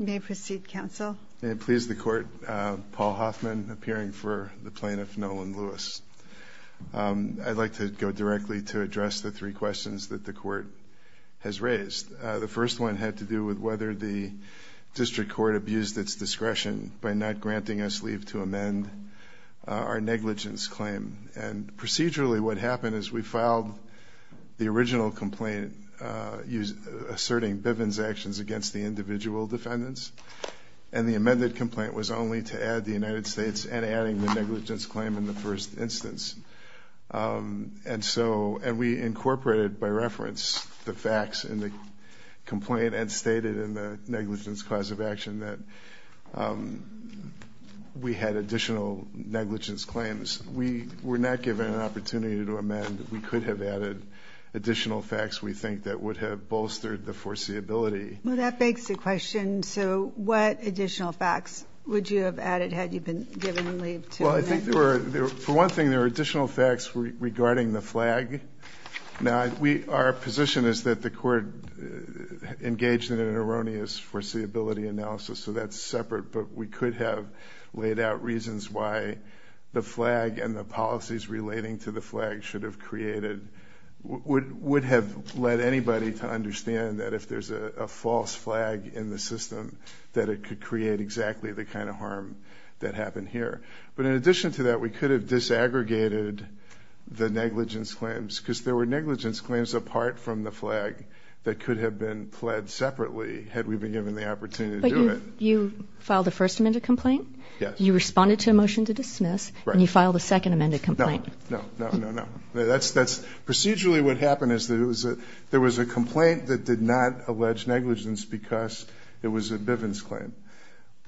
May it please the court, Paul Hoffman, appearing for the plaintiff Nolan Lewis. I'd like to go directly to address the three questions that the court has raised. The first one had to do with whether the district court abused its discretion by not granting us leave to amend our negligence claim. And procedurally what happened is we filed the original complaint asserting Bivens' actions against the individual defendants. And the amended complaint was only to add the United States and adding the negligence claim in the first instance. And so, and we incorporated by reference the facts in the complaint and stated in the negligence cause of action that we had additional negligence claims. We were not given an opportunity to amend. We could have added additional facts we think that would have bolstered the foreseeability. Well that begs the question, so what additional facts would you have added had you been given leave to amend? I think there were, for one thing there were additional facts regarding the flag. Now we, our position is that the court engaged in an erroneous foreseeability analysis, so that's separate, but we could have laid out reasons why the flag and the policies relating to the flag should have created, would have led anybody to understand that if there's a false flag in the system that it could create exactly the kind of harm that happened here. But in addition to that we could have disaggregated the negligence claims because there were negligence claims apart from the flag that could have been pled separately had we been given the opportunity to do it. But you filed the first amended complaint? Yes. You responded to a motion to dismiss? Right. And you filed a second amended complaint? No, no, no, no, no. Procedurally what happened is there was a complaint that did not allege negligence because it was a Bivens claim.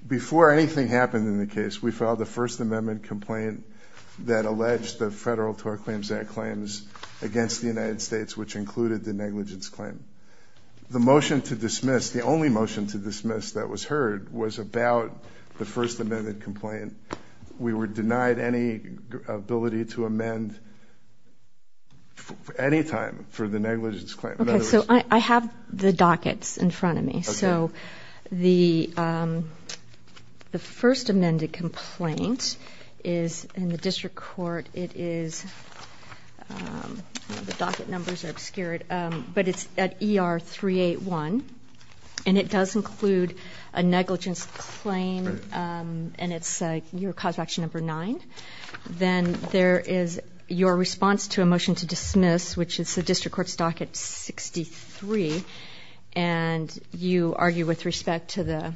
Before anything happened in the case we filed a first amendment complaint that alleged the Federal Tort Claims Act claims against the United States which included the negligence claim. The motion to dismiss, the only motion to dismiss that was heard was about the first amended complaint. We were denied any ability to amend any time for the negligence claim. Okay, so I have the dockets in front of me. So the first amended complaint is in the district court. It is, the docket numbers are obscured, but it's at ER 381 and it does include a negligence claim and it's your cause of action number 9. Then there is your response to a motion to dismiss, which is the district court's docket 63, and you argue with respect to the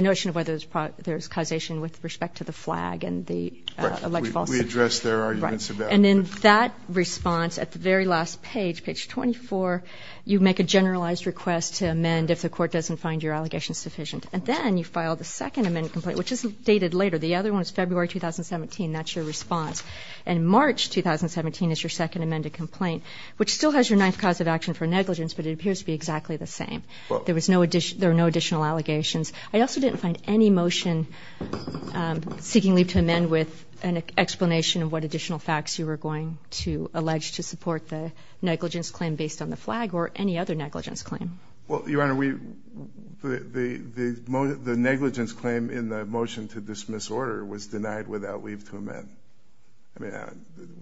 notion of whether there's causation with respect to the flag and the alleged falsehood. Right. We addressed their arguments about it. And then that response at the very last page, page 24, you make a generalized request to amend if the court doesn't find your allegations sufficient. And then you file the second amended complaint, which is dated later. The other one is February 2017. That's your response. And March 2017 is your second amended complaint, which still has your ninth cause of action for negligence, but it appears to be exactly the same. There are no additional allegations. I also didn't find any motion seeking leave to amend with an explanation of what additional facts you were going to allege to support the negligence claim based on the flag or any other negligence claim. Well, Your Honor, the negligence claim in the motion to dismiss order was denied without leave to amend.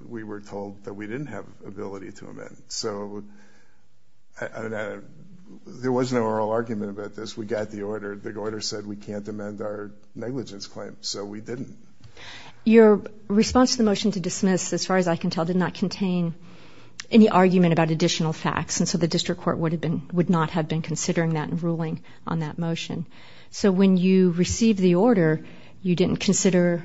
We were told that we didn't have ability to amend. So there was no oral argument about this. We got the order. The order said we can't amend our negligence claim, so we didn't. Your response to the motion to dismiss, as far as I can tell, did not contain any argument about additional facts, and so the district court would not have been considering that and ruling on that motion. So when you received the order, you didn't consider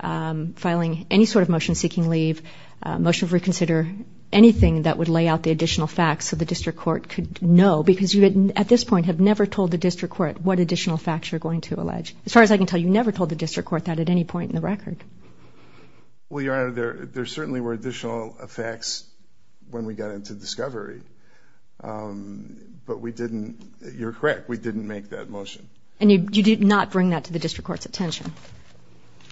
filing any sort of motion seeking leave, motion for reconsider, anything that would lay out the additional facts so the district court could know, because you at this point have never told the district court what additional facts you're going to allege. As far as I can tell, you never told the district court that at any point in the record. Well, Your Honor, there certainly were additional facts when we got into discovery, but we didn't, you're correct, we didn't make that motion. And you did not bring that to the district court's attention?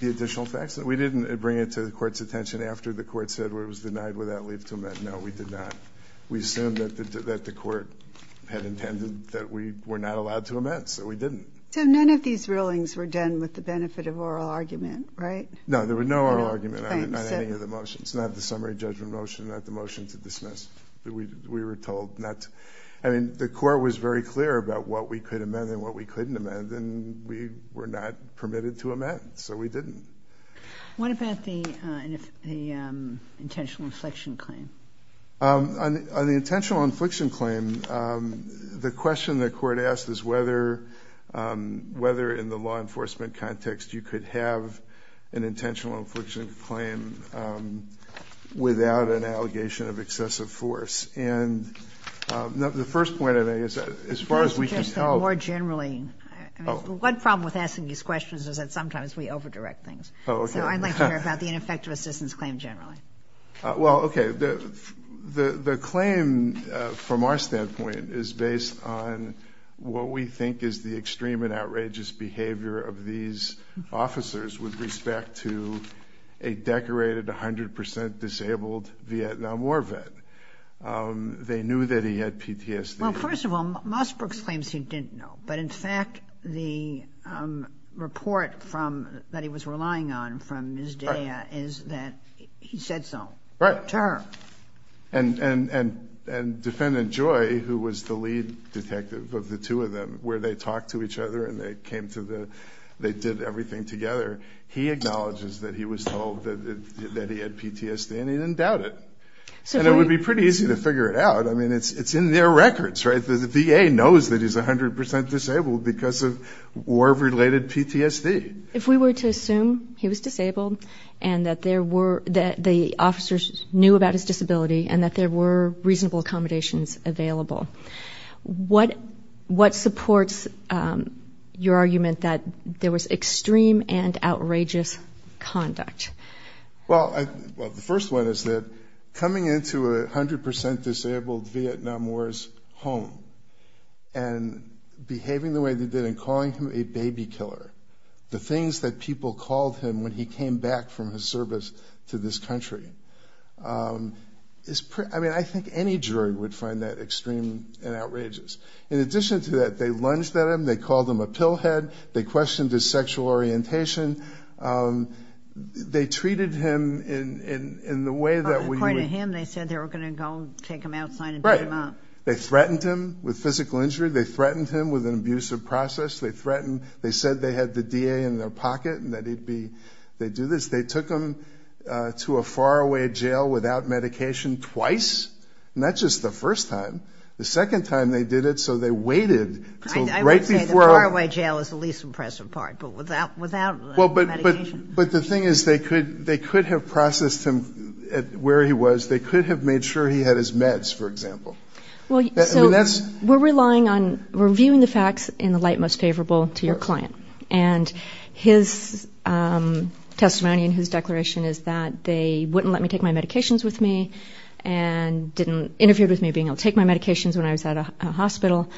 The additional facts? We didn't bring it to the court's attention after the court said it was denied without leave to amend. No, we did not. We assumed that the court had intended that we were not allowed to amend, so we didn't. So none of these rulings were done with the benefit of oral argument, right? No, there was no oral argument on any of the motions, not the summary judgment motion, not the motion to dismiss. We were told not to. I mean, the court was very clear about what we could amend and what we couldn't amend, and we were not permitted to amend, so we didn't. What about the intentional infliction claim? On the intentional infliction claim, the question the court asked is whether in the law enforcement context you could have an intentional infliction claim without an allegation of excessive force. And the first point, I guess, as far as we can tell — Just more generally. One problem with asking these questions is that sometimes we over-direct things. Oh, okay. So I'd like to hear about the ineffective assistance claim generally. Well, okay. The claim, from our standpoint, is based on what we think is the extreme and outrageous behavior of these officers with respect to a decorated, 100 percent disabled Vietnam War vet. They knew that he had PTSD. Well, first of all, Mossbrooks claims he didn't know, but in fact, the report that he was relying on from Ms. Daya is that he said so to her. Right. And Defendant Joy, who was the lead detective of the two of them, where they talked to each other and they came to the — they did everything together, he acknowledges that he was told that he had PTSD, and he didn't doubt it. And it would be pretty easy to figure it out. I mean, it's in their records, right? The VA knows that he's 100 percent disabled because of war-related PTSD. If we were to assume he was disabled and that there were — that the officers knew about his disability and that there were reasonable accommodations available, what supports your argument that there was extreme and outrageous conduct? Well, the first one is that coming into a 100 percent disabled Vietnam War's home and behaving the way they did and calling him a baby killer, the things that people called him when he came back from his service to this country, is pretty — I mean, I think any jury would find that extreme and outrageous. In addition to that, they lunged at him. They called him a pill head. They questioned his sexual orientation. They treated him in the way that — According to him, they said they were going to go take him outside and beat him up. Right. They threatened him with physical injury. They threatened him with an abusive process. They threatened — they said they had the DA in their pocket and that he'd be — they'd do this. They took him to a faraway jail without medication twice, not just the first time. The second time they did it, so they waited until right before — I would say the faraway jail is the least impressive part, but without medication. But the thing is, they could have processed him at where he was. They could have made sure he had his meds, for example. Well, so — I mean, that's — We're relying on — we're viewing the facts in the light most favorable to your client. Of course. And his testimony and his declaration is that they wouldn't let me take my medications with me and didn't — interfered with me being able to take my medications when I was at a hospital.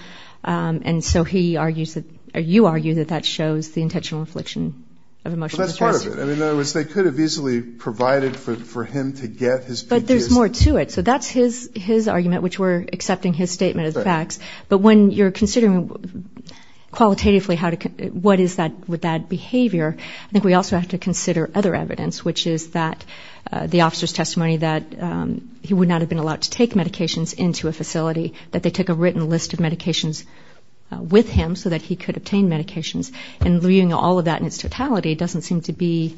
And so he argues that — or you argue that that shows the intentional infliction of emotional distress. Well, that's part of it. I mean, in other words, they could have easily provided for him to get his P.T.S. But there's more to it. So that's his argument, which we're accepting his statement of the facts. But when you're considering qualitatively how to — what is that — with that behavior, I think we also have to consider other evidence, which is that the officer's testimony that he would not have been allowed to take medications into a facility, that they took a written list of medications with him so that he could obtain medications. And leaving all of that in its totality doesn't seem to be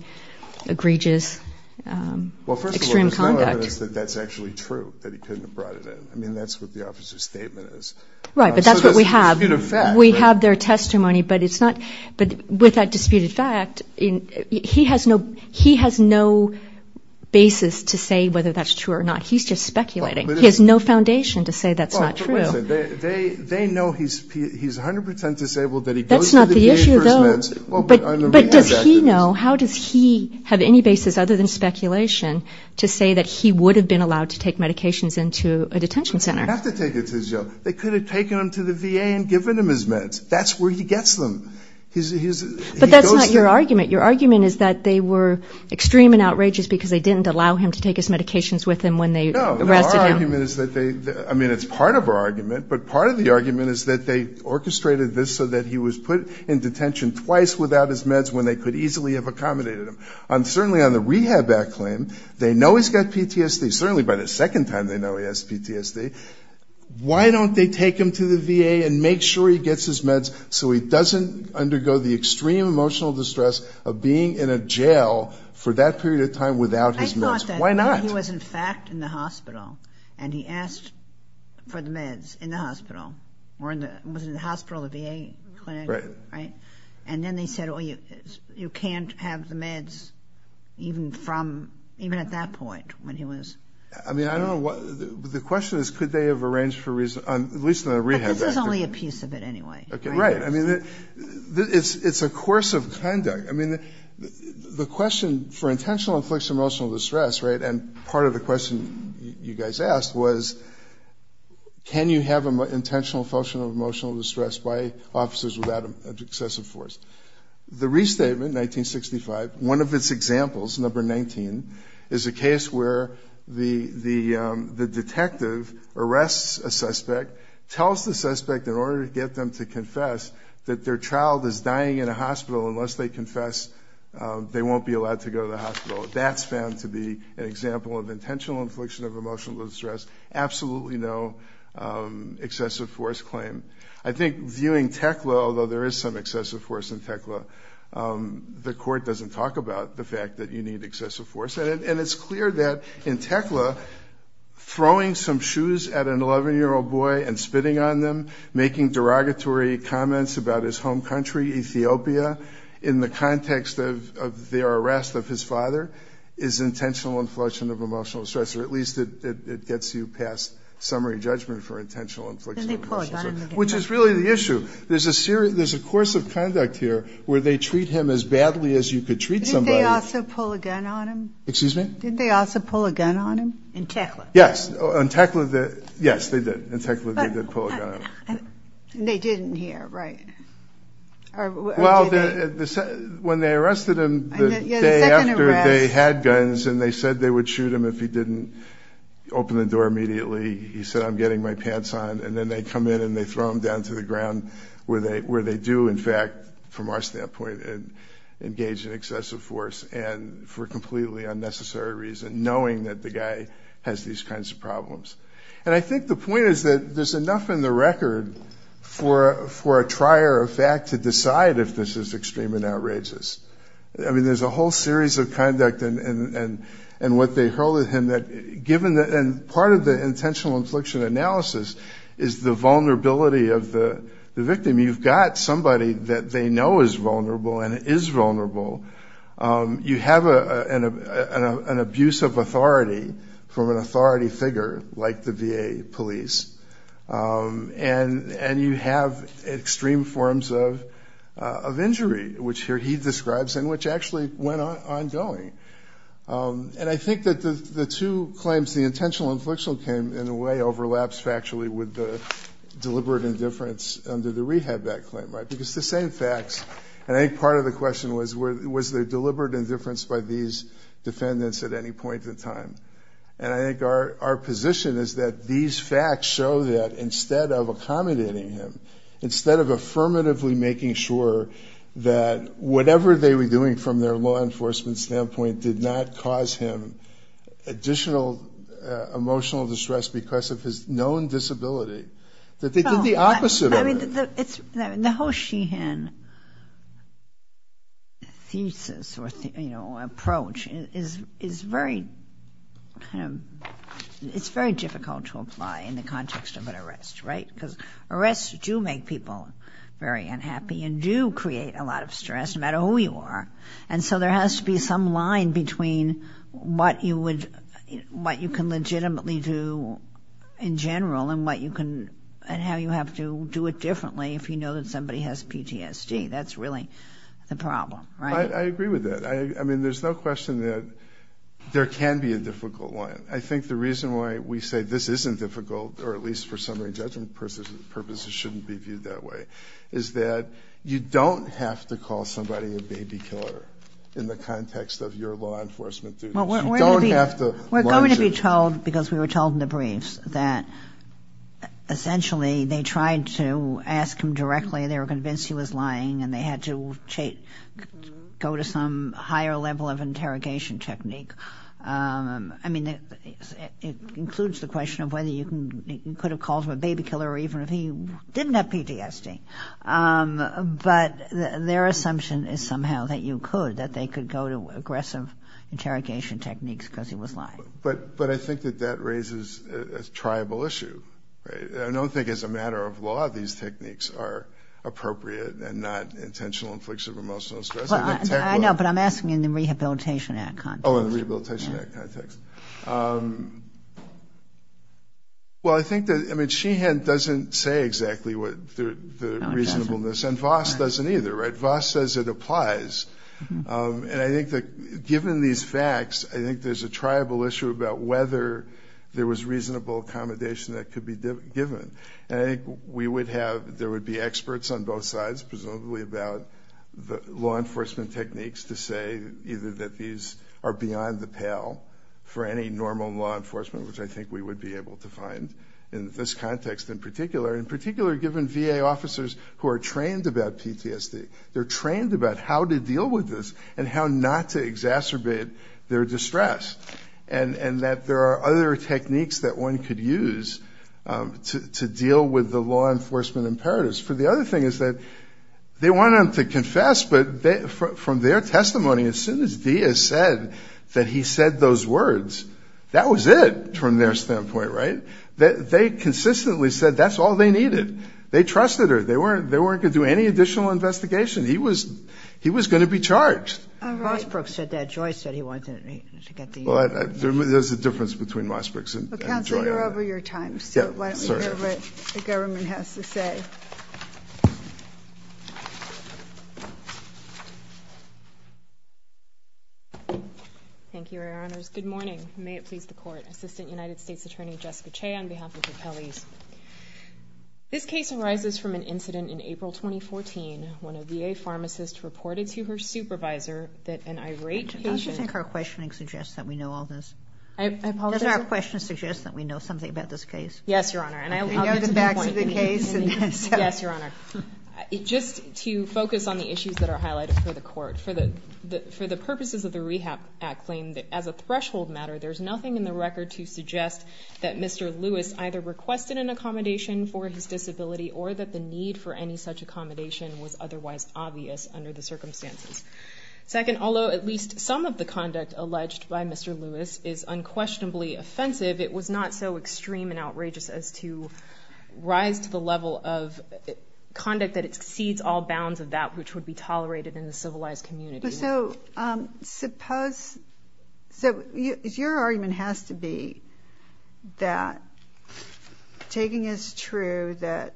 egregious, extreme conduct. The argument is that that's actually true, that he couldn't have brought it in. I mean, that's what the officer's statement is. Right, but that's what we have. So that's a disputed fact, right? We have their testimony, but it's not — but with that disputed fact, he has no basis to say whether that's true or not. He's just speculating. He has no foundation to say that's not true. Well, but listen, they know he's 100 percent disabled, that he goes to the VA for his meds. That's not the issue, though. So how does he have any basis other than speculation to say that he would have been allowed to take medications into a detention center? They have to take it to the jail. They could have taken him to the VA and given him his meds. That's where he gets them. But that's not your argument. Your argument is that they were extreme and outrageous because they didn't allow him to take his medications with him when they arrested him. No, our argument is that they — I mean, it's part of our argument, but part of the argument is that they orchestrated this so that he was put in detention twice without his meds when they could easily have accommodated him. Certainly on the rehab act claim, they know he's got PTSD. Certainly by the second time they know he has PTSD. Why don't they take him to the VA and make sure he gets his meds so he doesn't undergo the extreme emotional distress of being in a jail for that period of time without his meds? Why not? I thought that he was, in fact, in the hospital, and he asked for the meds in the hospital. Or was it in the hospital, the VA clinic? Right. Right? And then they said, oh, you can't have the meds even from — even at that point when he was — I mean, I don't know what — the question is could they have arranged for — at least on the rehab act. But this is only a piece of it anyway, right? Right. I mean, it's a course of conduct. I mean, the question for intentional inflicts emotional distress, right, and part of the question you guys asked was can you have an intentional function of emotional distress by officers without excessive force? The restatement, 1965, one of its examples, number 19, is a case where the detective arrests a suspect, tells the suspect in order to get them to confess that their child is dying in a hospital unless they confess they won't be allowed to go to the hospital. That's found to be an example of intentional infliction of emotional distress. Absolutely no excessive force claim. I think viewing TECLA, although there is some excessive force in TECLA, the court doesn't talk about the fact that you need excessive force. And it's clear that in TECLA throwing some shoes at an 11-year-old boy and spitting on them, making derogatory comments about his home country, Ethiopia, in the context of their arrest of his father is intentional infliction of emotional distress, or at least it gets you past summary judgment for intentional infliction of emotional distress. Which is really the issue. There's a course of conduct here where they treat him as badly as you could treat somebody. Didn't they also pull a gun on him? Excuse me? Didn't they also pull a gun on him? In TECLA. Yes, in TECLA they did. In TECLA they did pull a gun on him. They didn't here, right? Well, when they arrested him the day after they had guns and they said they would shoot him if he didn't open the door immediately, he said, I'm getting my pants on. And then they come in and they throw him down to the ground, where they do, in fact, from our standpoint, engage in excessive force and for completely unnecessary reason, knowing that the guy has these kinds of problems. And I think the point is that there's enough in the record for a trier of fact to decide if this is extreme and outrageous. I mean, there's a whole series of conduct and what they hurl at him that, and part of the intentional infliction analysis is the vulnerability of the victim. You've got somebody that they know is vulnerable and is vulnerable. You have an abuse of authority from an authority figure, like the VA police, and you have extreme forms of injury, which here he describes, and which actually went on ongoing. And I think that the two claims, the intentional inflictional claim, in a way, overlaps factually with the deliberate indifference under the rehab act claim, right? Because the same facts, and I think part of the question was, was there deliberate indifference by these defendants at any point in time? And I think our position is that these facts show that instead of accommodating him, instead of affirmatively making sure that whatever they were doing from their law enforcement standpoint did not cause him additional emotional distress because of his known disability, that they did the opposite of it. I mean, the whole Sheehan thesis or, you know, approach is very kind of, it's very difficult to apply in the context of an arrest, right? Because arrests do make people very unhappy and do create a lot of stress, no matter who you are. And so there has to be some line between what you can legitimately do in general and how you have to do it differently if you know that somebody has PTSD. That's really the problem, right? I agree with that. I mean, there's no question that there can be a difficult line. I think the reason why we say this isn't difficult, or at least for summary judgment purposes shouldn't be viewed that way, is that you don't have to call somebody a baby killer in the context of your law enforcement duties. You don't have to. We're going to be told, because we were told in the briefs, that essentially they tried to ask him directly. They were convinced he was lying, and they had to go to some higher level of interrogation technique. I mean, it includes the question of whether you could have called him a baby killer even if he didn't have PTSD. But their assumption is somehow that you could, that they could go to aggressive interrogation techniques because he was lying. But I think that that raises a triable issue. I don't think as a matter of law these techniques are appropriate and not intentional infliction of emotional stress. I know, but I'm asking in the Rehabilitation Act context. Oh, in the Rehabilitation Act context. Well, I think that, I mean, Sheehan doesn't say exactly the reasonableness, and Voss doesn't either. Voss says it applies. And I think that given these facts, I think there's a triable issue about whether there was reasonable accommodation that could be given. And I think we would have, there would be experts on both sides, presumably about the law enforcement techniques to say either that these are for any normal law enforcement, which I think we would be able to find in this context in particular. In particular, given VA officers who are trained about PTSD, they're trained about how to deal with this and how not to exacerbate their distress. And that there are other techniques that one could use to deal with the law enforcement imperatives. For the other thing is that they want him to confess, but from their testimony, as soon as Diaz said that he said those words, that was it from their standpoint, right? They consistently said that's all they needed. They trusted her. They weren't going to do any additional investigation. He was going to be charged. All right. Mossbrooks said that. Joyce said he wanted to get the ear. There's a difference between Mossbrooks and Joy. Counsel, you're over your time. Sorry. The government has to say. Thank you, Your Honors. Good morning. May it please the Court. Assistant United States Attorney Jessica Chey on behalf of the Kellys. This case arises from an incident in April 2014 when a VA pharmacist reported to her supervisor that an irate patient. Don't you think our questioning suggests that we know all this? I apologize. Does our questioning suggest that we know something about this case? Yes, Your Honor. And I'll get to that point. We know the facts of the case. Yes, Your Honor. Just to focus on the issues that are highlighted for the Court. For the purposes of the Rehab Act claim, as a threshold matter, there's nothing in the record to suggest that Mr. Lewis either requested an accommodation for his disability or that the need for any such accommodation was otherwise obvious under the circumstances. Second, although at least some of the conduct alleged by Mr. Lewis is unquestionably offensive, it was not so extreme and outrageous as to rise to the level of conduct that exceeds all bounds of that which would be tolerated in the civilized community. So, suppose, so your argument has to be that, taking as true that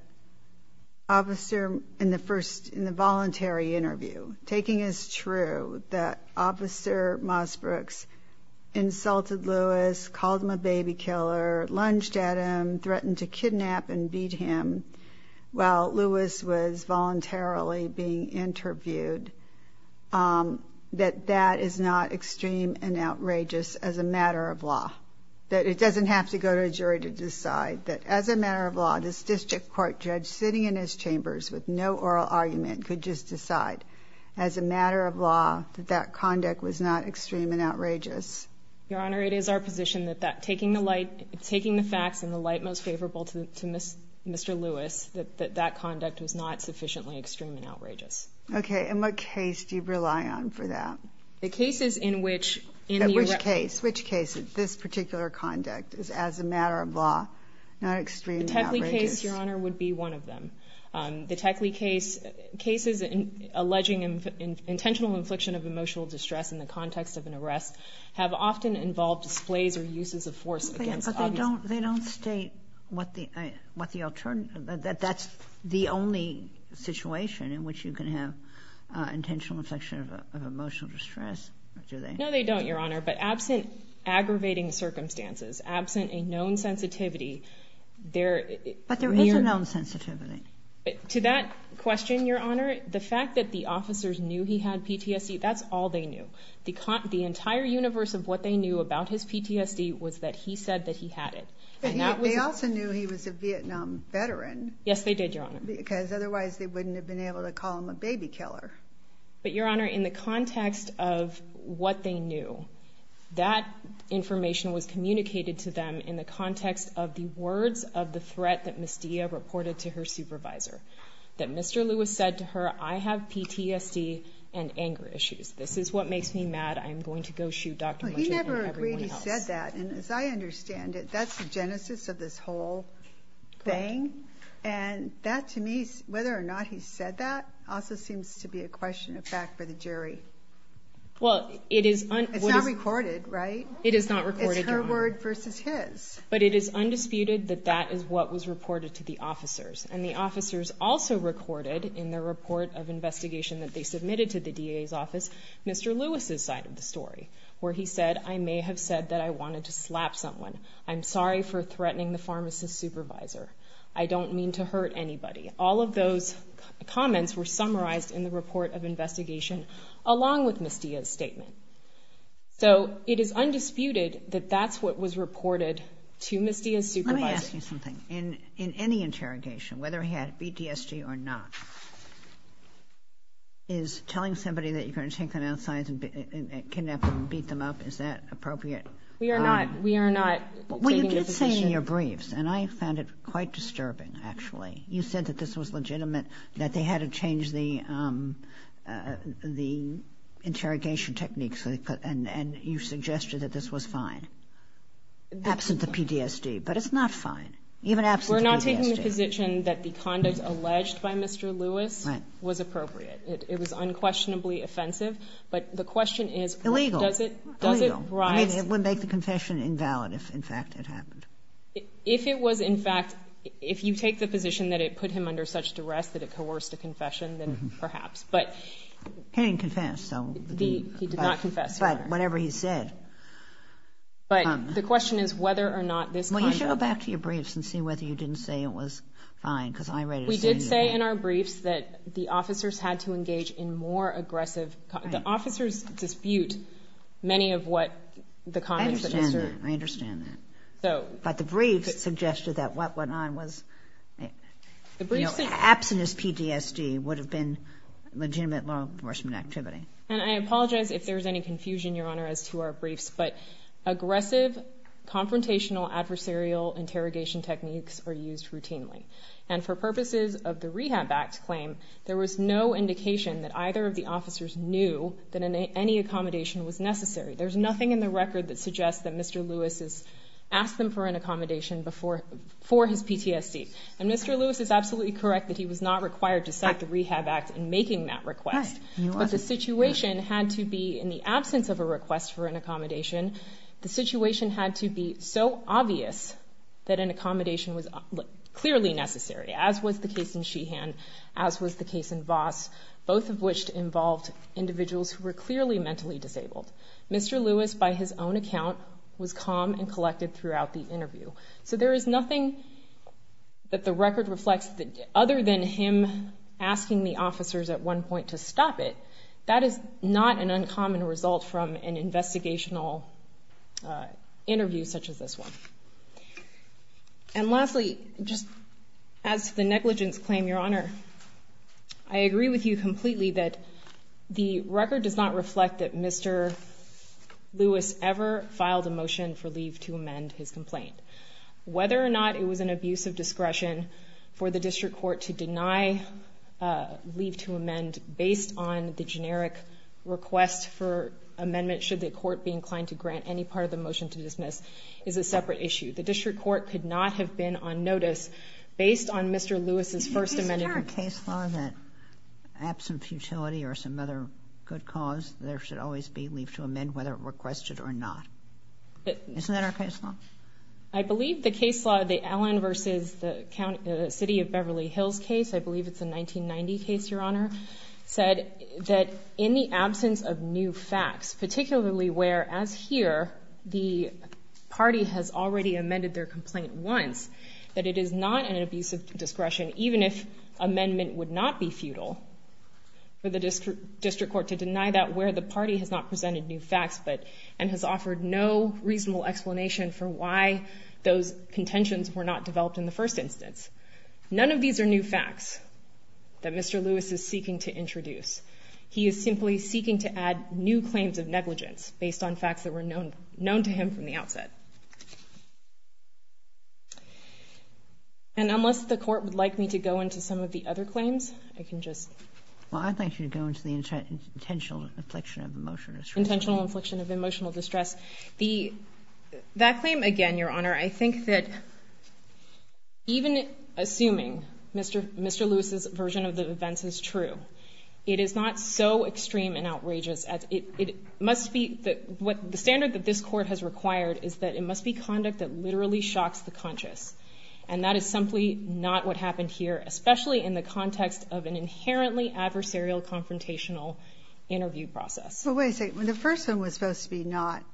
Officer, in the first, in the voluntary interview, taking as true that Officer Mossbrooks insulted Lewis, called him a baby killer, lunged at him, threatened to kidnap and beat him while Lewis was voluntarily being interviewed, that that is not extreme and outrageous as a matter of law. That it doesn't have to go to a jury to decide that, as a matter of law, this district court judge sitting in his chambers with no oral argument could just decide, as a matter of law, that that conduct was not extreme and outrageous. Your Honor, it is our position that taking the facts in the light most favorable to Mr. Lewis, that that conduct was not sufficiently extreme and outrageous. Okay. And what case do you rely on for that? The cases in which, in the arrest. Which case? Which case is this particular conduct, as a matter of law, not extreme and outrageous? The Techley case, Your Honor, would be one of them. The Techley case, cases alleging intentional infliction of emotional distress in the context of an arrest have often involved displays or uses of force. But they don't state what the alternative, that that's the only situation in which you can have intentional infliction of emotional distress, do they? No, they don't, Your Honor. But absent aggravating circumstances, absent a known sensitivity, there... But there was a known sensitivity. To that question, Your Honor, the fact that the officers knew he had PTSD, that's all they knew. The entire universe of what they knew about his PTSD was that he said that he had it. They also knew he was a Vietnam veteran. Yes, they did, Your Honor. Because otherwise they wouldn't have been able to call him a baby killer. But, Your Honor, in the context of what they knew, that information was communicated to them in the context of the words of the threat that Ms. Dia reported to her supervisor. That Mr. Lewis said to her, I have PTSD and anger issues. This is what makes me mad. I'm going to go shoot Dr. Munger and everyone else. He never agreed he said that. And as I understand it, that's the genesis of this whole thing. Correct. And that, to me, whether or not he said that, also seems to be a question of fact for the jury. Well, it is... It's not recorded, right? It is not recorded, Your Honor. But it is undisputed that that is what was reported to the officers. And the officers also recorded in their report of investigation that they submitted to the DA's office Mr. Lewis's side of the story, where he said, I may have said that I wanted to slap someone. I'm sorry for threatening the pharmacist supervisor. I don't mean to hurt anybody. All of those comments were summarized in the report of investigation along with Ms. Dia's statement. So it is undisputed that that's what was reported to Ms. Dia's supervisor. Let me ask you something. In any interrogation, whether he had PTSD or not, is telling somebody that you're going to take them outside and kidnap them and beat them up, is that appropriate? We are not... Well, you did say in your briefs, and I found it quite disturbing, actually. You said that this was legitimate, that they had to change the interrogation techniques and you suggested that this was fine, absent the PTSD. But it's not fine, even absent PTSD. We're not taking the position that the conduct alleged by Mr. Lewis was appropriate. It was unquestionably offensive. But the question is... Illegal. Does it rise... I mean, it would make the confession invalid if, in fact, it happened. If it was, in fact... If you take the position that it put him under such duress that it coerced a confession, then perhaps. But... He didn't confess, so... He did not confess. But whatever he said... But the question is whether or not this kind of... Well, you should go back to your briefs and see whether you didn't say it was fine, because I'm ready to say... We did say in our briefs that the officers had to engage in more aggressive... Right. The officers dispute many of what the comments... I understand that. I understand that. So... But the briefs suggested that what went on was... The briefs... Absent his PTSD would have been legitimate law enforcement activity. And I apologize if there's any confusion, Your Honor, as to our briefs, but aggressive, confrontational, adversarial interrogation techniques are used routinely. And for purposes of the Rehab Act claim, there was no indication that either of the officers knew that any accommodation was necessary. There's nothing in the record that suggests that Mr. Lewis has asked them for an accommodation for his PTSD. And Mr. Lewis is absolutely correct that he was not required to sign the Rehab Act in making that request. Right. But the situation had to be, in the absence of a request for an accommodation, the situation had to be so obvious that an accommodation was clearly necessary, as was the case in Sheehan, as was the case in Voss, both of which involved individuals who were clearly mentally disabled. Mr. Lewis, by his own account, was calm and collected throughout the interview. So there is nothing that the record reflects other than him asking the officers at one point to stop it. That is not an uncommon result from an investigational interview such as this one. And lastly, just as to the negligence claim, Your Honor, I agree with you completely that the record does not reflect that Mr. Lewis ever filed a motion for leave to amend his complaint. Whether or not it was an abuse of discretion for the district court to deny leave to amend based on the generic request for amendment, should the court be inclined to grant any part of the motion to dismiss, is a separate issue. The district court could not have been on notice based on Mr. Lewis's first amendment. Is there a case law that, absent futility or some other good cause, there should always be leave to amend whether requested or not? Isn't that our case law? I believe the case law, the Allen versus the City of Beverly Hills case, I believe it's a 1990 case, Your Honor, said that in the absence of new facts, particularly where, as here, the party has already amended their complaint once, that it is not an abuse of discretion, even if amendment would not be futile, for the district court to deny that where the party has not presented new facts and has offered no reasonable explanation for why those contentions were not developed in the first instance. None of these are new facts that Mr. Lewis is seeking to introduce. He is simply seeking to add new claims of negligence based on facts that were known to him from the outset. And unless the court would like me to go into some of the other claims, I can just... Well, I'd like you to go into the intentional infliction of a motion. Intentional infliction of emotional distress. That claim, again, Your Honor, I think that even assuming Mr. Lewis's version of the events is true, it is not so extreme and outrageous. The standard that this court has required is that it must be conduct that literally shocks the conscious, and that is simply not what happened here, especially in the context of an inherently adversarial confrontational interview process. Well, wait a second. The first one was supposed to be not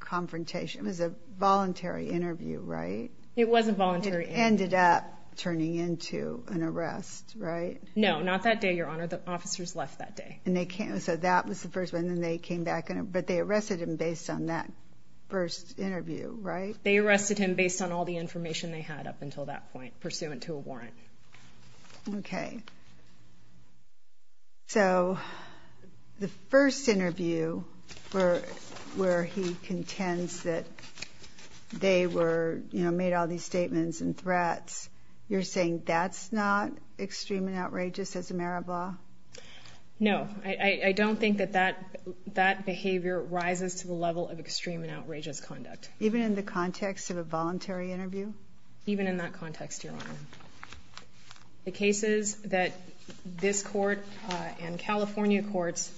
confrontation. It was a voluntary interview, right? It was a voluntary interview. It ended up turning into an arrest, right? No, not that day, Your Honor. The officers left that day. So that was the first one, and then they came back, but they arrested him based on that first interview, right? They arrested him based on all the information they had up until that point, pursuant to a warrant. Okay. So the first interview where he contends that they made all these statements and threats, you're saying that's not extreme and outrageous as a matter of law? No. I don't think that that behavior rises to the level of extreme and outrageous conduct. Even in the context of a voluntary interview? Even in that context, Your Honor. The cases that this court and California courts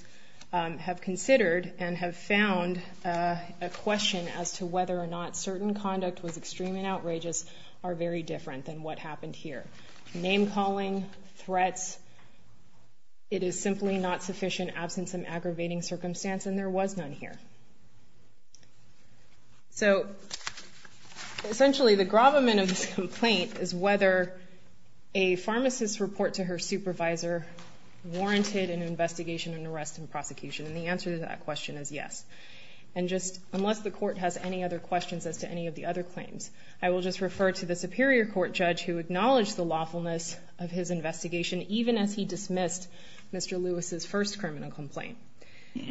have considered and have found a question as to whether or not certain conduct was extreme and outrageous are very different than what happened here. Name-calling, threats, it is simply not sufficient, absent some aggravating circumstance, and there was none here. So essentially the gravamen of this complaint is whether a pharmacist's report to her supervisor warranted an investigation and arrest and prosecution, and the answer to that question is yes. And just unless the court has any other questions as to any of the other claims, I will just refer to the Superior Court judge who acknowledged the lawfulness of his investigation even as he dismissed Mr. Lewis's first criminal complaint.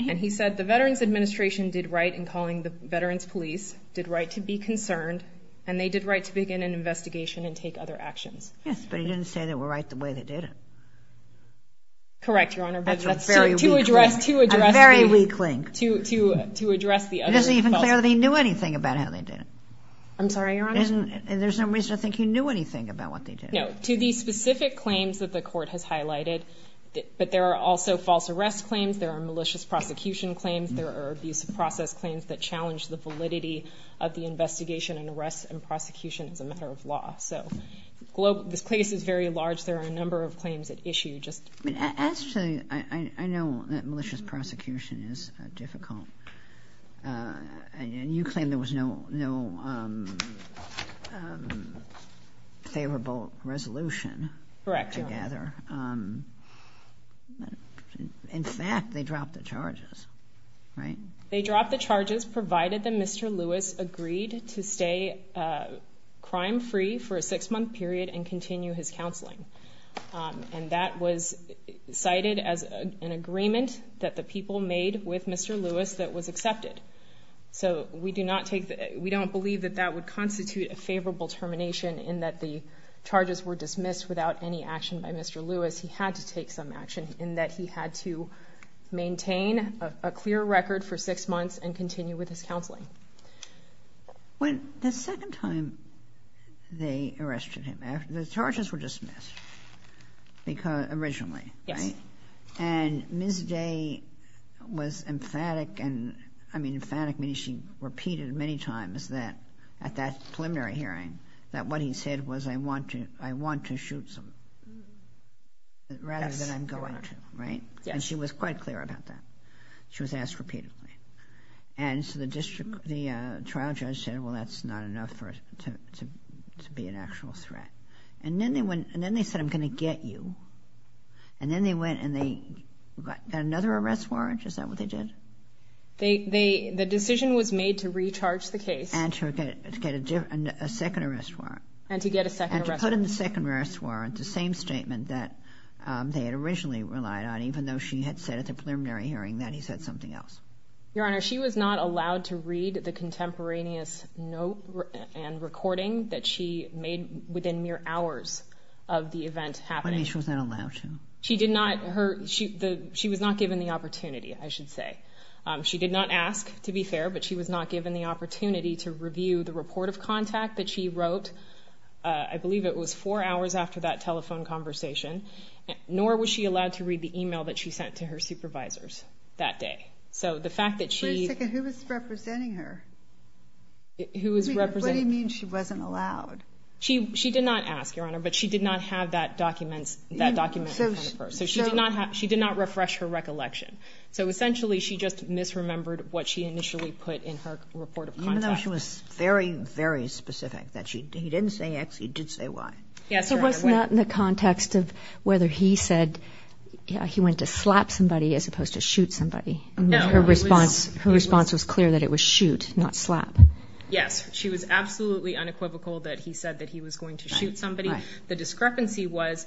And he said the Veterans Administration did right in calling the Veterans Police, did right to be concerned, and they did right to begin an investigation and take other actions. Yes, but he didn't say they were right the way they did it. Correct, Your Honor. That's a very weak link. A very weak link. To address the other faults. It isn't even clear that he knew anything about how they did it. I'm sorry, Your Honor? There's no reason to think he knew anything about what they did. No. To these specific claims that the court has highlighted, but there are also false arrest claims. There are malicious prosecution claims. There are abusive process claims that challenge the validity of the investigation and arrest and prosecution as a matter of law. So this case is very large. There are a number of claims at issue. Actually, I know that malicious prosecution is difficult, and you claim there was no favorable resolution. Correct, Your Honor. I don't gather. In fact, they dropped the charges, right? They dropped the charges provided that Mr. Lewis agreed to stay crime-free for a six-month period and continue his counseling. And that was cited as an agreement that the people made with Mr. Lewis that was accepted. So we don't believe that that would constitute a favorable termination in that the charges were dismissed without any action by Mr. Lewis. He had to take some action in that he had to maintain a clear record for six months and continue with his counseling. The second time they arrested him, the charges were dismissed originally, right? And Ms. Day was emphatic, and I mean emphatic means she repeated many times at that preliminary hearing that what he said was, I want to shoot someone rather than I'm going to, right? And she was quite clear about that. She was asked repeatedly. And so the trial judge said, well, that's not enough to be an actual threat. And then they said, I'm going to get you. And then they went and they got another arrest warrant. Is that what they did? The decision was made to recharge the case. And to get a second arrest warrant. And to get a second arrest warrant. And to put in the second arrest warrant the same statement that they had originally relied on, even though she had said at the preliminary hearing that he said something else. Your Honor, she was not allowed to read the contemporaneous note and recording that she made within mere hours of the event happening. What do you mean she was not allowed to? She did not. She was not given the opportunity, I should say. She did not ask, to be fair, but she was not given the opportunity to review the report of contact that she wrote. I believe it was four hours after that telephone conversation. Nor was she allowed to read the email that she sent to her supervisors that day. So the fact that she. Wait a second. Who was representing her? Who was representing. What do you mean she wasn't allowed? She did not ask, Your Honor, but she did not have that document. So she did not refresh her recollection. So essentially she just misremembered what she initially put in her report of contact. Even though she was very, very specific that he didn't say X, he did say Y. Yes, Your Honor. It was not in the context of whether he said he went to slap somebody as opposed to shoot somebody. No. Her response was clear that it was shoot, not slap. Yes. She was absolutely unequivocal that he said that he was going to shoot somebody. The discrepancy was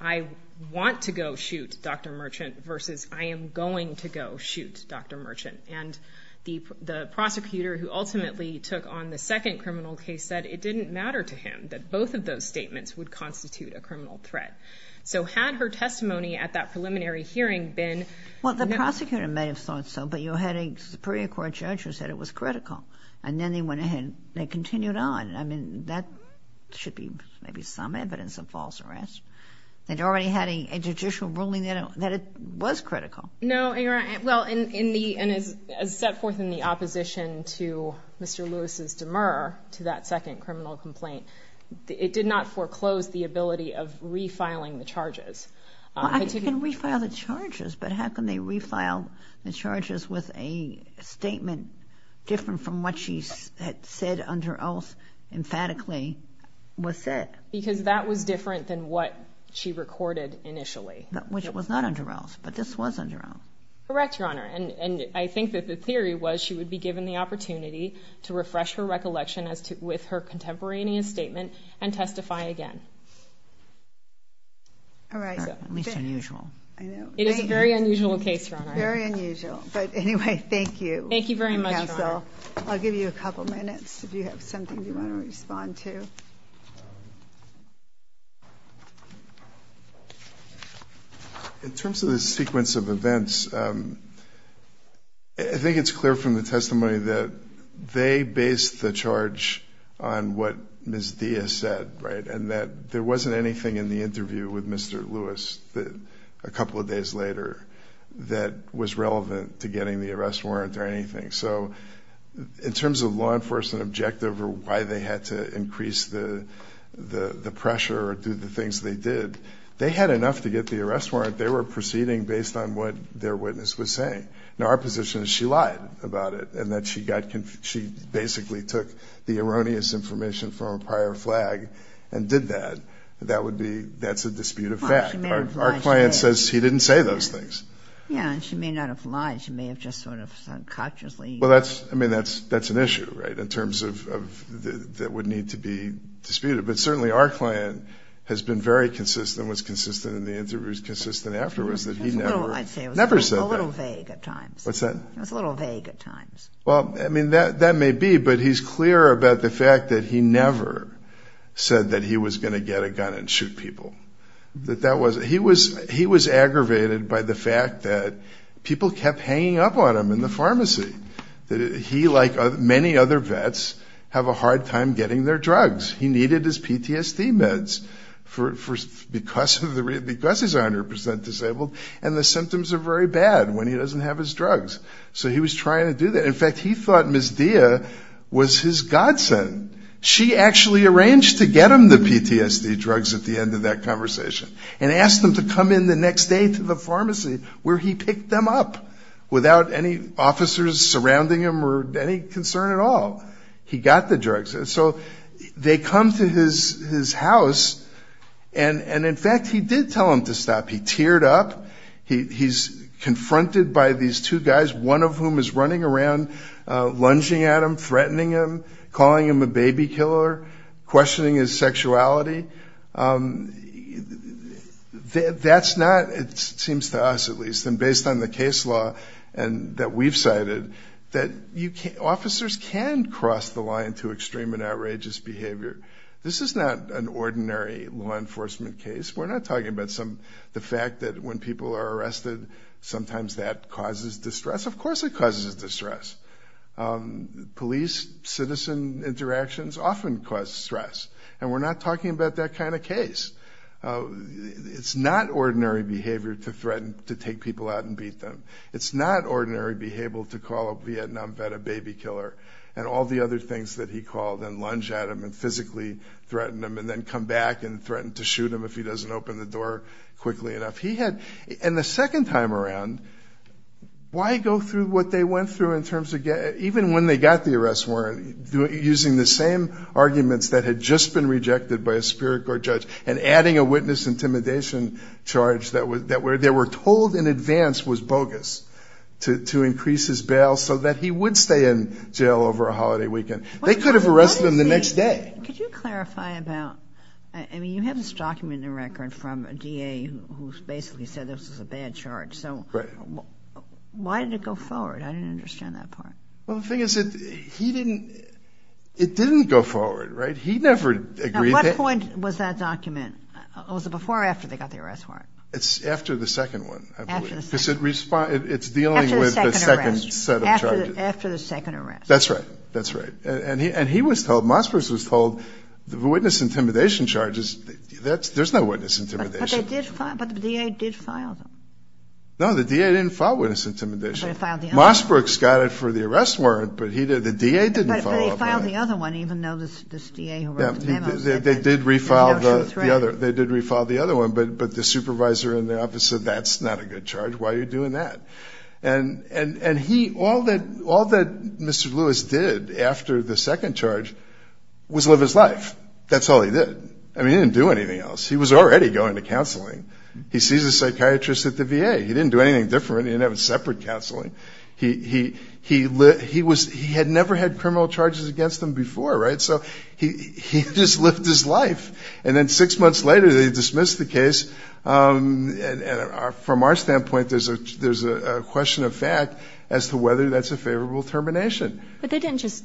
I want to go shoot Dr. Merchant versus I am going to go shoot Dr. Merchant. And the prosecutor who ultimately took on the second criminal case said it didn't matter to him that both of those statements would constitute a criminal threat. So had her testimony at that preliminary hearing been... Well, the prosecutor may have thought so, but you had a Supreme Court judge who said it was critical. And then they went ahead and they continued on. I mean, that should be maybe some evidence of false arrest. They'd already had a judicial ruling that it was critical. No, Your Honor. Well, as set forth in the opposition to Mr. Lewis's demur to that second criminal complaint, it did not foreclose the ability of refiling the charges. Well, I can refile the charges, but how can they refile the charges with a statement different from what she had said under oath emphatically was said? Because that was different than what she recorded initially. Which was not under oath, but this was under oath. Correct, Your Honor. And I think that the theory was she would be given the opportunity to refresh her recollection with her contemporaneous statement and testify again. All right. At least unusual. It is a very unusual case, Your Honor. Very unusual. But anyway, thank you. Thank you very much, Your Honor. Counsel, I'll give you a couple minutes if you have something you want to respond to. In terms of the sequence of events, I think it's clear from the testimony that they based the charge on what Ms. Diaz said, right, and that there wasn't anything in the interview with Mr. Lewis a couple of days later that was relevant to getting the arrest warrant or anything. So in terms of law enforcement objective or why they had to increase the pressure or do the things they did, they had enough to get the arrest warrant. They were proceeding based on what their witness was saying. Now, our position is she lied about it and that she basically took the erroneous information from a prior flag and did that. That's a dispute of fact. Our client says he didn't say those things. Yeah, and she may not have lied. She may have just sort of unconsciously. Well, I mean, that's an issue, right, in terms of that would need to be disputed. But certainly our client has been very consistent, was consistent in the interview, was consistent afterwards that he never said that. I'd say it was a little vague at times. What's that? It was a little vague at times. Well, I mean, that may be, but he's clear about the fact that he never said that he was going to get a gun and shoot people, that that wasn't. He was aggravated by the fact that people kept hanging up on him in the pharmacy, that he, like many other vets, have a hard time getting their drugs. He needed his PTSD meds because he's 100% disabled, and the symptoms are very bad when he doesn't have his drugs. So he was trying to do that. In fact, he thought Ms. Dia was his godsend. She actually arranged to get him the PTSD drugs at the end of that conversation and asked him to come in the next day to the pharmacy where he picked them up without any officers surrounding him or any concern at all. He got the drugs. So they come to his house, and, in fact, he did tell them to stop. He teared up. He's confronted by these two guys, one of whom is running around lunging at him, threatening him, calling him a baby killer, questioning his sexuality. That's not, it seems to us at least, and based on the case law that we've cited, that officers can cross the line to extreme and outrageous behavior. This is not an ordinary law enforcement case. We're not talking about the fact that when people are arrested, sometimes that causes distress. Of course it causes distress. Police-citizen interactions often cause stress, and we're not talking about that kind of case. It's not ordinary behavior to threaten to take people out and beat them. It's not ordinary behavior to call a Vietnam vet a baby killer and all the other things that he called and lunge at him and physically threaten him and then come back and threaten to shoot him if he doesn't open the door quickly enough. And the second time around, why go through what they went through in terms of getting, even when they got the arrest warrant, using the same arguments that had just been rejected by a Superior Court judge and adding a witness intimidation charge that they were told in advance was bogus to increase his bail so that he would stay in jail over a holiday weekend. They could have arrested him the next day. Could you clarify about, I mean, you have this document in the record from a DA who basically said this was a bad charge. So why did it go forward? I didn't understand that part. Well, the thing is, it didn't go forward, right? He never agreed to it. At what point was that document? Was it before or after they got the arrest warrant? It's after the second one, I believe. After the second. Because it's dealing with the second set of charges. After the second arrest. That's right. That's right. And he was told, Mossberg was told, the witness intimidation charges, there's no witness intimidation. But the DA did file them. No, the DA didn't file witness intimidation. Mossberg's got it for the arrest warrant, but the DA didn't file it. But he filed the other one, even though this DA who wrote the memo. They did refile the other one, but the supervisor in the office said, that's not a good charge, why are you doing that? And all that Mr. Lewis did after the second charge was live his life. That's all he did. I mean, he didn't do anything else. He was already going to counseling. He sees a psychiatrist at the VA. He didn't do anything different. He didn't have a separate counseling. He had never had criminal charges against him before, right? So he just lived his life. And then six months later, they dismissed the case. From our standpoint, there's a question of fact as to whether that's a favorable termination. But they didn't just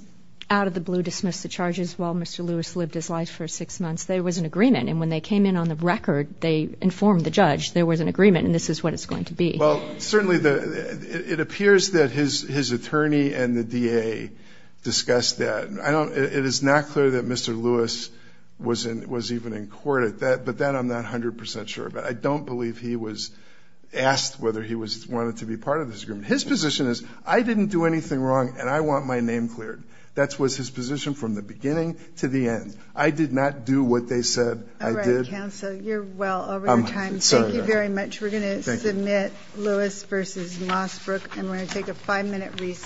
out of the blue dismiss the charges while Mr. Lewis lived his life for six months. There was an agreement. And when they came in on the record, they informed the judge there was an agreement and this is what it's going to be. Well, certainly it appears that his attorney and the DA discussed that. It is not clear that Mr. Lewis was even in court. But that I'm not 100 percent sure about. I don't believe he was asked whether he wanted to be part of this agreement. His position is, I didn't do anything wrong and I want my name cleared. That was his position from the beginning to the end. I did not do what they said I did. All right, counsel, you're well over your time. Thank you very much. We're going to submit Lewis v. Mossbrook and we're going to take a five-minute recess.